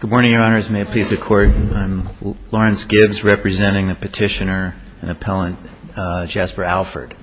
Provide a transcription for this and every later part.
Good morning, Your Honors. May it please the Court, I'm Lawrence Gibbs representing the petitioner and appellant Jasper Alford.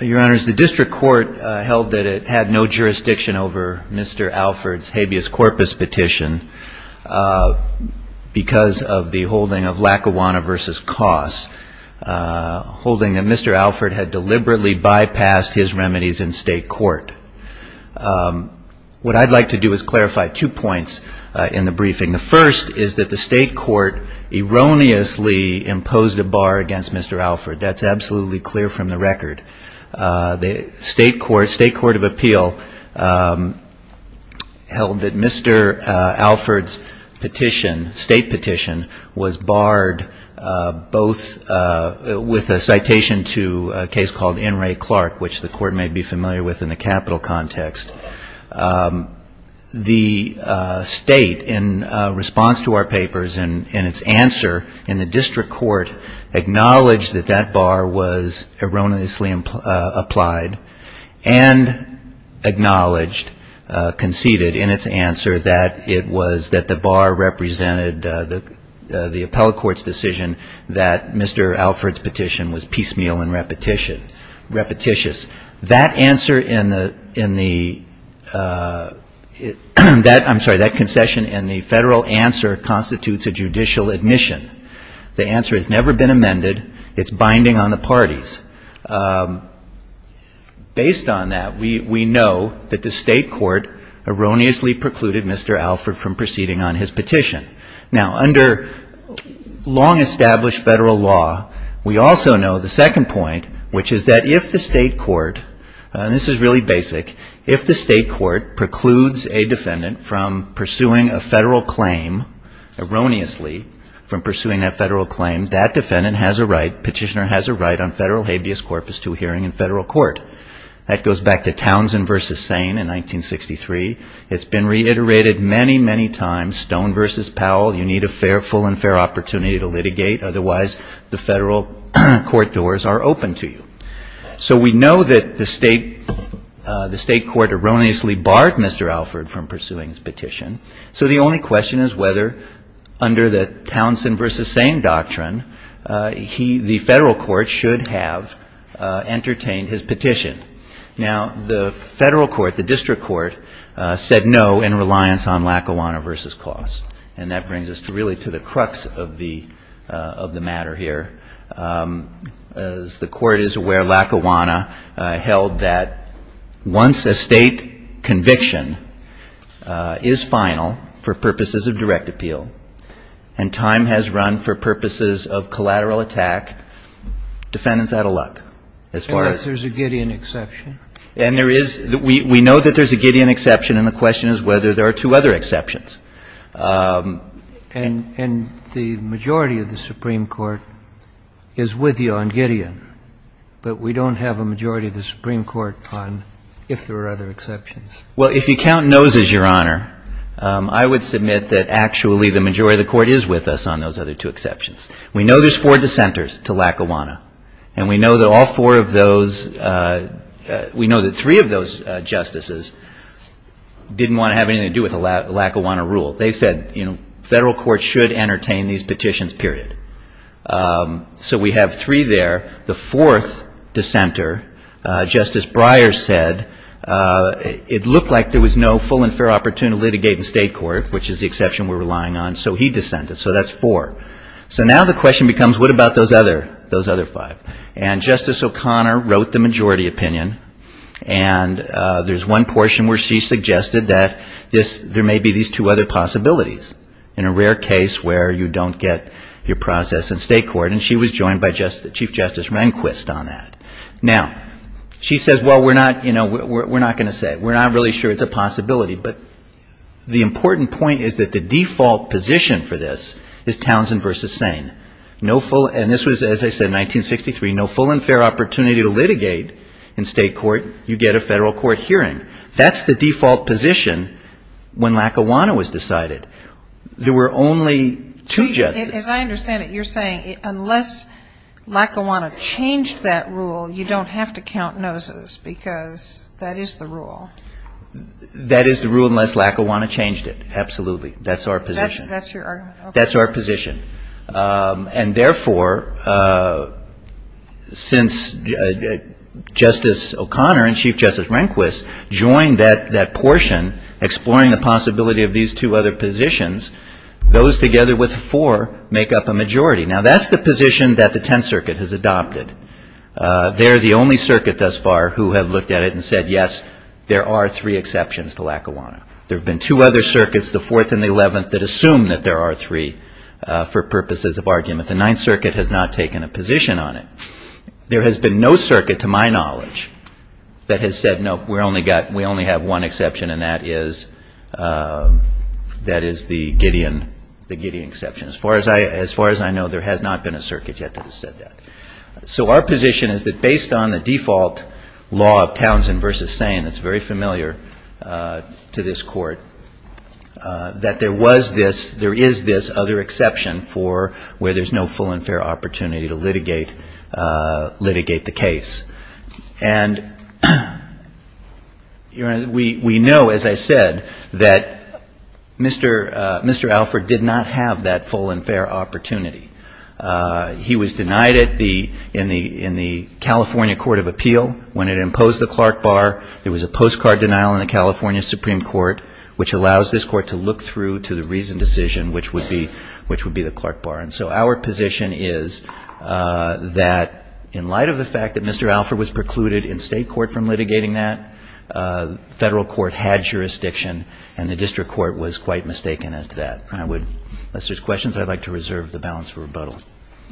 Your Honors, the District Court held that it had no jurisdiction over Mr. Alford's habeas corpus petition because of the holding of Lackawanna v. Coss, holding that Mr. Alford had deliberately bypassed his remedies in state court. What I'd like to do is clarify two points in the briefing. The first is that the state court erroneously imposed a bar against Mr. Alford. That's absolutely clear from the record. The with a citation to a case called N. Ray Clark, which the Court may be familiar with in the capital context, the state, in response to our papers and its answer in the District Court, acknowledged that that bar was erroneously applied and acknowledged, conceded in its answer, that it was that the bar represented the appellate court's decision that Mr. Alford's petition was piecemeal and repetitious. That answer in the, I'm sorry, that concession in the federal answer constitutes a judicial admission. The answer has never been amended. It's binding on the parties. Based on that, we know that the state court erroneously precluded Mr. Alford from proceeding on his petition. Now, under long-established federal law, we also know the second point, which is that if the state court, and this is really basic, if the state court precludes a defendant from pursuing a federal claim, erroneously from the right, petitioner has a right on federal habeas corpus to a hearing in federal court. That goes back to Townsend v. Sane in 1963. It's been reiterated many, many times. Stone v. Powell, you need a fair, full and fair opportunity to litigate. Otherwise, the federal court doors are open to you. So we know that the state, the state court erroneously barred Mr. Alford from pursuing his petition. So the only question is whether, under the Townsend v. Sane doctrine, he, the federal court, should have entertained his petition. Now, the federal court, the district court, said no in reliance on Lackawanna v. Clause. And that brings us to really to the crux of the matter here. As the Court is aware, Lackawanna held that once a state conviction is final for purposes of direct appeal and time has run for purposes of collateral attack, defendant's out of luck as far as the statute goes. And yes, there's a Gideon exception. And there is. We know that there's a Gideon exception, and the question is whether there are two other exceptions. And the majority of the Supreme Court is with you on Gideon, but we don't have a majority of the Supreme Court on if there are other exceptions. Well, if you count noses, Your Honor, I would submit that actually the majority of the Court is with us on those other two exceptions. We know there's four dissenters to Lackawanna, and we know that all four of those we know that three of those justices didn't want to have anything to do with the Lackawanna rule. They said, you know, federal court should entertain these petitions, period. So we have three there. The fourth dissenter, Justice Breyer said, it looked like there was no full and fair opportunity to litigate in state court, which is the exception we're relying on, so he dissented. So that's four. So now the question becomes, what about those other five? And Justice O'Connor wrote the majority opinion, and there's one portion where she suggested that there may be these two other possibilities, in a rare case where you don't get your process in state court, and she was joined by Chief Justice Rehnquist on that. Now, she says, well, we're not going to say it. We're not really sure it's a possibility, but the important point is that the default position for this is Townsend versus Sane. No full, and this was, as I said, 1963, no full and fair opportunity to litigate in state court hearing. That's the default position when Lackawanna was decided. There were only two justices. As I understand it, you're saying unless Lackawanna changed that rule, you don't have to count noses, because that is the rule. That is the rule unless Lackawanna changed it. Absolutely. That's our position. That's your argument. That's our position. And therefore, since Justice O'Connor and Chief Justice Rehnquist joined that portion, exploring the possibility of these two other positions, those together with four make up a majority. Now, that's the position that the Tenth Circuit has adopted. They're the only circuit thus far who have looked at it and said, yes, there are three exceptions to Lackawanna. There are three for purposes of argument. The Ninth Circuit has not taken a position on it. There has been no circuit, to my knowledge, that has said, no, we only have one exception, and that is the Gideon exception. As far as I know, there has not been a circuit yet that has said that. So our position is that based on the default law of Townsend versus Sane that's very familiar to this Court, that there was this, there is this other exception for where there's no full and fair opportunity to litigate the case. And we know, as I said, that Mr. Alford did not have that full and fair opportunity. He was denied it in the California Court of Appeal when it imposed the Clark Bar. There was a postcard denial in the California Supreme Court, which allows this Court to look through to the reasoned decision, which would be the Clark Bar. And so our position is that in light of the fact that Mr. Alford was precluded in State Court from litigating that, Federal Court had jurisdiction, and the District Court was quite mistaken as to that. I would, unless there's questions, I'd like to reserve the balance for rebuttal. MS. NISBET.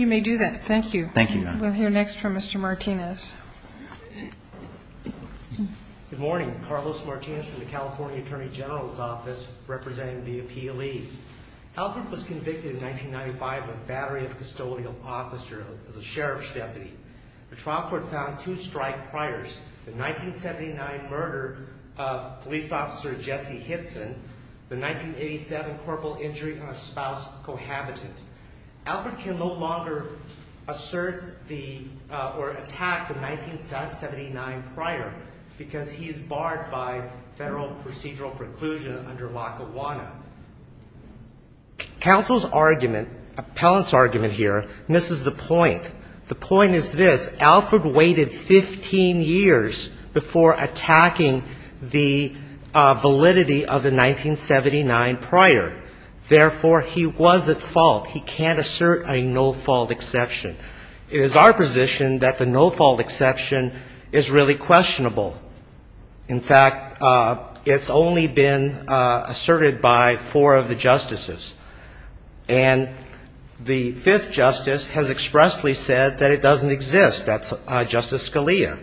You may do that. Thank you. MR. BOUTROUS. Thank you, Your Honor. MS. NISBET. We'll hear next from Mr. Martinez. MR. MARTINEZ. Good morning. Carlos Martinez from the California Attorney General's Office, representing the APLE. Alford was convicted in 1995 of battery of custodial officer as a sheriff's deputy. The trial court found two strike priors, the 1979 murder of police officer Jesse Hitson, the 1987 corporal injury on a spouse cohabitant. Alford can no longer assert a no-fault exception. It is our position that the no-fault exception can only be asserted by a federal procedural preclusion under Lackawanna. Counsel's argument, appellant's argument here, misses the point. The point is this. Alford waited 15 years before attacking the validity of the 1979 prior. Therefore, he was at fault. He can't assert a no-fault exception. It is our position that the no-fault exception is really questionable. In fact, it's only been asserted by four of the justices. And the fifth justice has expressly said that it doesn't exist. That's Justice Scalia.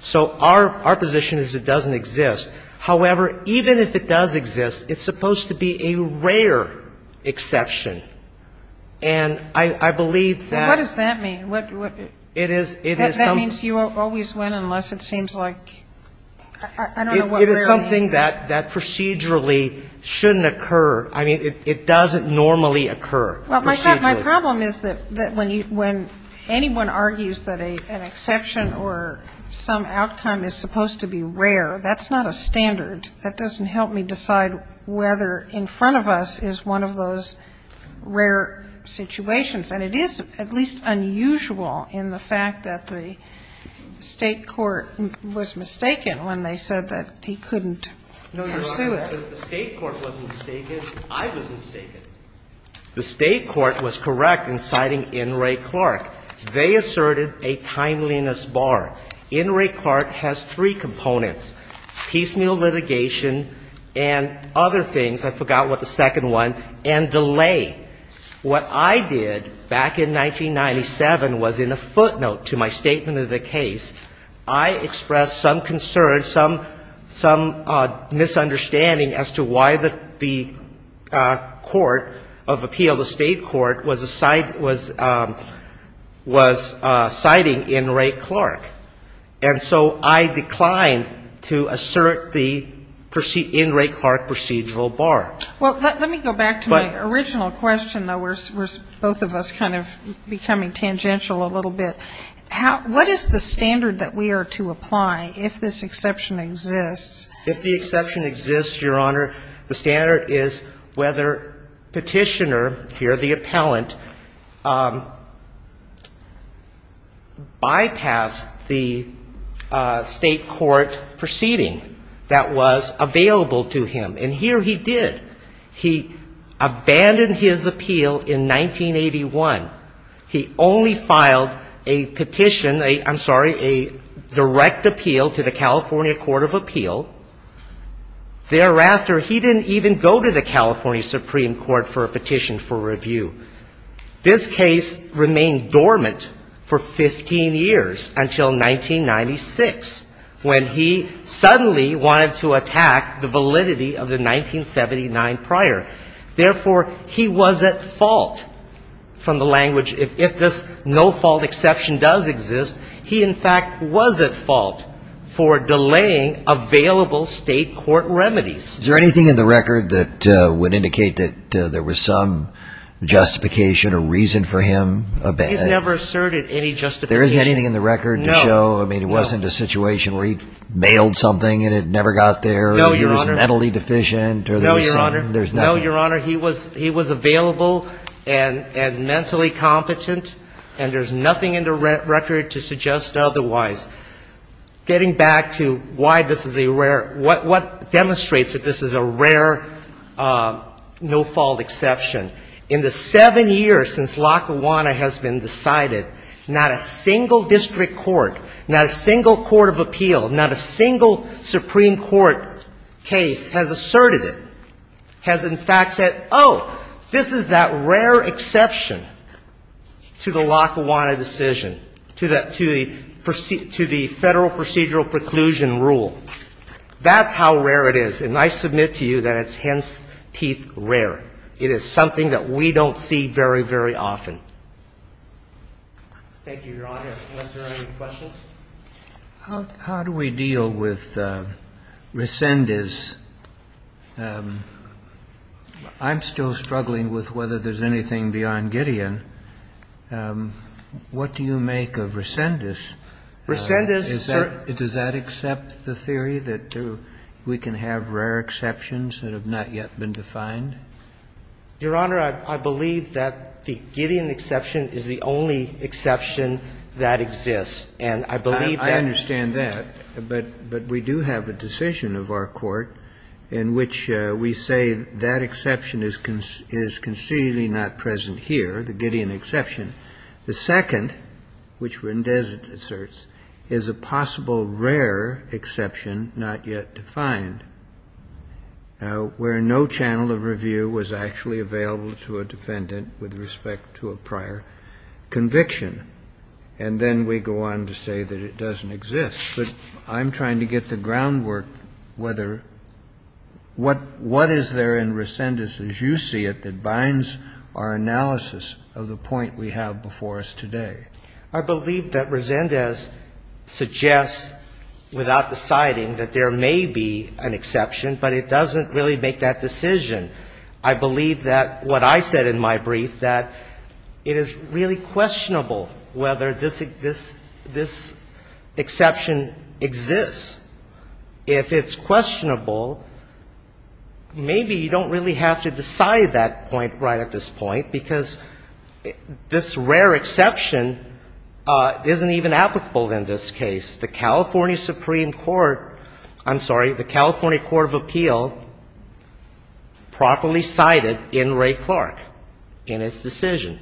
So our position is it doesn't exist. However, even if it does exist, it's supposed to be a rare exception. And I believe that ---- And what does that mean? It is ---- That means you always win unless it seems like ---- It is something that procedurally shouldn't occur. I mean, it doesn't normally occur. Well, my problem is that when anyone argues that an exception or some outcome is supposed to be rare, that's not a standard. That doesn't help me decide whether in front of us is one of those rare situations. And it is at least unusual in the fact that the State court was mistaken when they said that he couldn't pursue it. No, Your Honor. The State court wasn't mistaken. I was mistaken. The State court was correct in citing N. Ray Clark. They asserted a timeliness bar. N. Ray Clark has three components, piecemeal litigation and other things. I forgot what the second one. And delay. What I did back in 1997 was in a footnote to my statement of the case, I expressed some concern, some ---- some misunderstanding as to why the court of appeal, the State court, was citing N. Ray Clark. And so I declined to assert the N. Ray Clark procedural bar. Well, let me go back to my original question, though. We're both of us kind of becoming tangential a little bit. What is the standard that we are to apply if this exception exists? If the exception exists, Your Honor, the standard is whether Petitioner, here the appellant, bypassed the State court proceeding that was available to him. And here he did. He abandoned his appeal in 1981. He only filed a petition, a ---- I'm sorry, a direct appeal to the California Court of Appeal. Thereafter, he didn't even go to the California Supreme Court for a petition for review. This case remained dormant for 15 years until 1996, when he suddenly wanted to attack the validity of the 1979 prior. Therefore, he was at fault from the language, if this no-fault exception does exist, he in fact was at fault for delaying available State court remedies. Is there anything in the record that would indicate that there was some justification or reason for him abet? He's never asserted any justification. There isn't anything in the record to show, I mean, it wasn't a situation where he mailed something and it never got there? No, Your Honor. Or he was mentally deficient? No, Your Honor. No, Your Honor. He was available and mentally competent, and there's nothing in the record to suggest otherwise. Getting back to why this is a rare ---- what demonstrates that this is a rare no-fault exception, in the seven years since Lackawanna has been decided, not a single district court, not a single court of appeal, not a single Supreme Court case has asserted it, has in fact said, oh, this is that rare exception to the Lackawanna decision, to the Federal procedural preclusion rule. That's how rare it is, and I submit to you that it's hence-teeth rare. It is something that we don't see very, very often. Thank you, Your Honor. Unless there are any questions? How do we deal with Resendiz? I'm still struggling with whether there's anything beyond Gideon. What do you make of Resendiz? Resendiz, sir? Does that accept the theory that we can have rare exceptions that have not yet been defined? Your Honor, I believe that the Gideon exception is the only exception that exists, and I believe that's true. I understand that, but we do have a decision of our court in which we say that exception is concededly not present here, the Gideon exception. The second, which Resendiz asserts, is a possible rare exception not yet defined, where no channel of review was actually available to a defendant with respect to a prior conviction. And then we go on to say that it doesn't exist. But I'm trying to get the groundwork whether what is there in Resendiz, as you see it, that binds our analysis of the point we have before us today? I believe that Resendiz suggests without deciding that there may be an exception, but it doesn't really make that decision. I believe that what I said in my brief, that it is really questionable whether this exception exists. If it's questionable, maybe you don't really have to decide that point right at this point, because this rare exception isn't even applicable in this case. The California Supreme Court, I'm sorry, the California Court of Appeal properly cited in Ray Clark in its decision.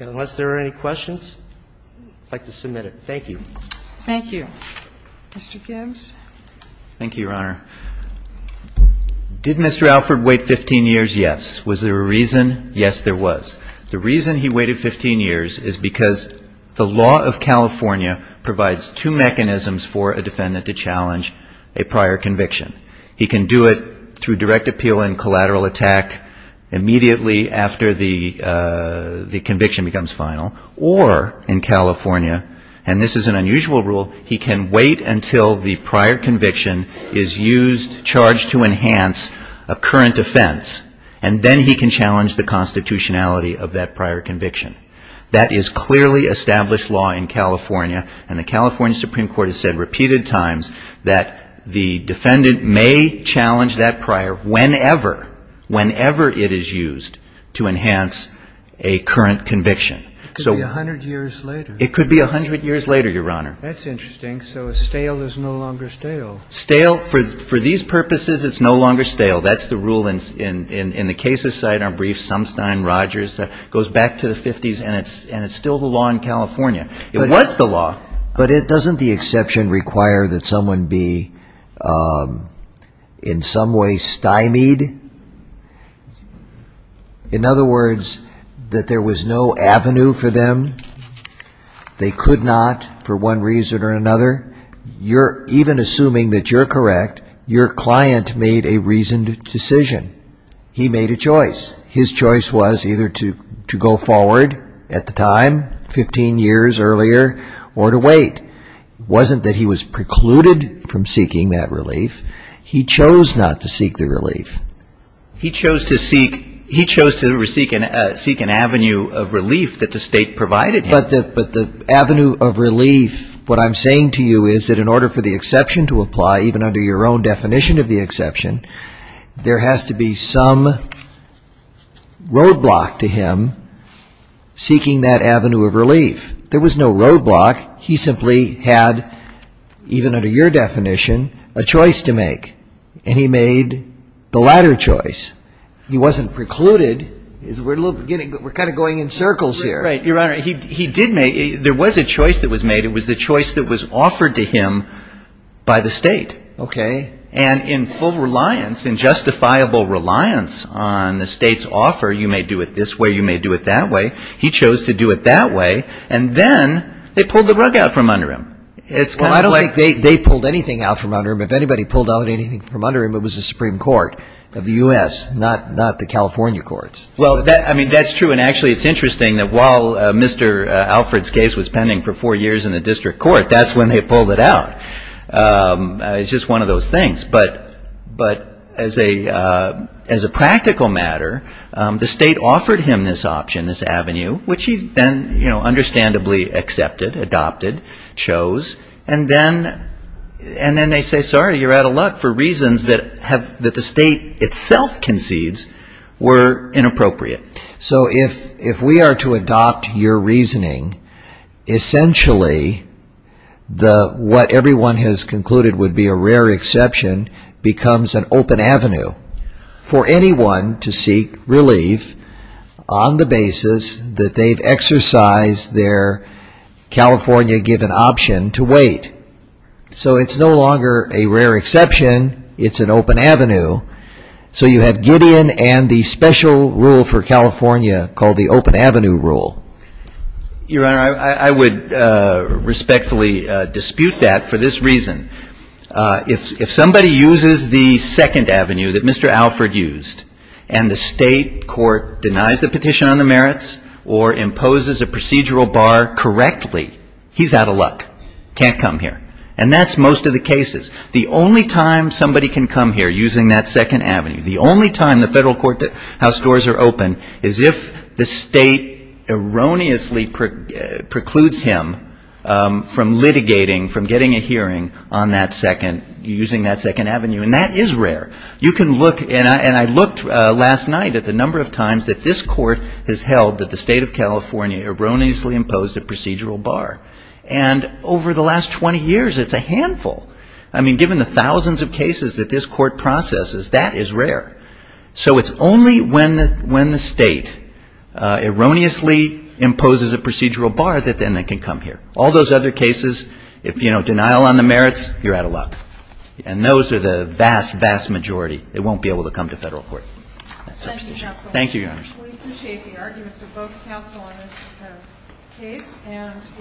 And unless there are any questions, I'd like to submit it. Thank you. Thank you. Mr. Gibbs. Thank you, Your Honor. Did Mr. Alford wait 15 years? Yes. Was there a reason? Yes, there was. The reason he waited 15 years is because the law of California provides two mechanisms for a defendant to challenge a prior conviction. He can do it through direct appeal and collateral attack immediately after the conviction becomes final, or in California, and this is an unusual rule, he can wait until the prior conviction is used, charged to enhance a current offense, and then he can challenge the constitutionality of that prior conviction. That is clearly established law in California, and the California Supreme Court has said repeated times that the defendant may challenge that prior whenever, whenever it is used to enhance a current conviction. It could be 100 years later. It could be 100 years later, Your Honor. That's interesting. So a stale is no longer stale. Stale, for these purposes, it's no longer stale. That's the rule in the cases cited in our briefs, Sumstein, Rogers. It goes back to the 50s, and it's still the law in California. It was the law. But doesn't the exception require that someone be in some way stymied? In other words, that there was no avenue for them? They could not, for one reason or another? Even assuming that you're correct, your client made a reasoned decision. He made a choice. His choice was either to go forward at the time, 15 years earlier, or to wait. It wasn't that he was precluded from seeking that relief. He chose not to seek the relief. He chose to seek an avenue of relief that the state provided him. But the avenue of relief, what I'm saying to you is that in order for the exception to apply, even under your own definition of the exception, there has to be some roadblock to him seeking that avenue of relief. There was no roadblock. He simply had, even under your definition, a choice to make. And he made the latter choice. He wasn't precluded. We're kind of going in circles here. Your Honor, he did make, there was a choice that was made. It was the choice that was offered to him by the state. Okay. And in full reliance, in justifiable reliance on the state's offer, you may do it this way, you may do it that way, he chose to do it that way. And then they pulled the rug out from under him. Well, I don't think they pulled anything out from under him. If anybody pulled out anything from under him, it was the Supreme Court of the U.S., not the California courts. Well, I mean, that's true. And actually it's interesting that while Mr. Alfred's case was pending for four years in the district court, that's when they pulled it out. It's just one of those things. But as a practical matter, the state offered him this option, this avenue, which he then understandably accepted, adopted, chose. And then they say, sorry, you're out of luck, for reasons that the state itself concedes were inappropriate. So if we are to adopt your reasoning, essentially what everyone has concluded would be a rare exception becomes an open avenue for anyone to seek relief on the basis that they've exercised their California-given option to wait. So it's no longer a rare exception. It's an open avenue. So you have Gideon and the special rule for California called the open avenue rule. Your Honor, I would respectfully dispute that for this reason. If somebody uses the second avenue that Mr. Alfred used and the state court denies the petition on the merits or imposes a procedural bar correctly, he's out of luck. Can't come here. And that's most of the cases. The only time somebody can come here using that second avenue, the only time the federal courthouse doors are open, is if the state erroneously precludes him from litigating, from getting a hearing on that second, using that second avenue. And that is rare. You can look, and I looked last night at the number of times that this court has held that the state of California erroneously imposed a procedural bar. And over the last 20 years, it's a handful. I mean, given the thousands of cases that this court processes, that is rare. So it's only when the state erroneously imposes a procedural bar that then they can come here. All those other cases, if, you know, denial on the merits, you're out of luck. And those are the vast, vast majority. They won't be able to come to federal court. That's my position. Thank you, Your Honor. We appreciate the arguments of both counsel on this case.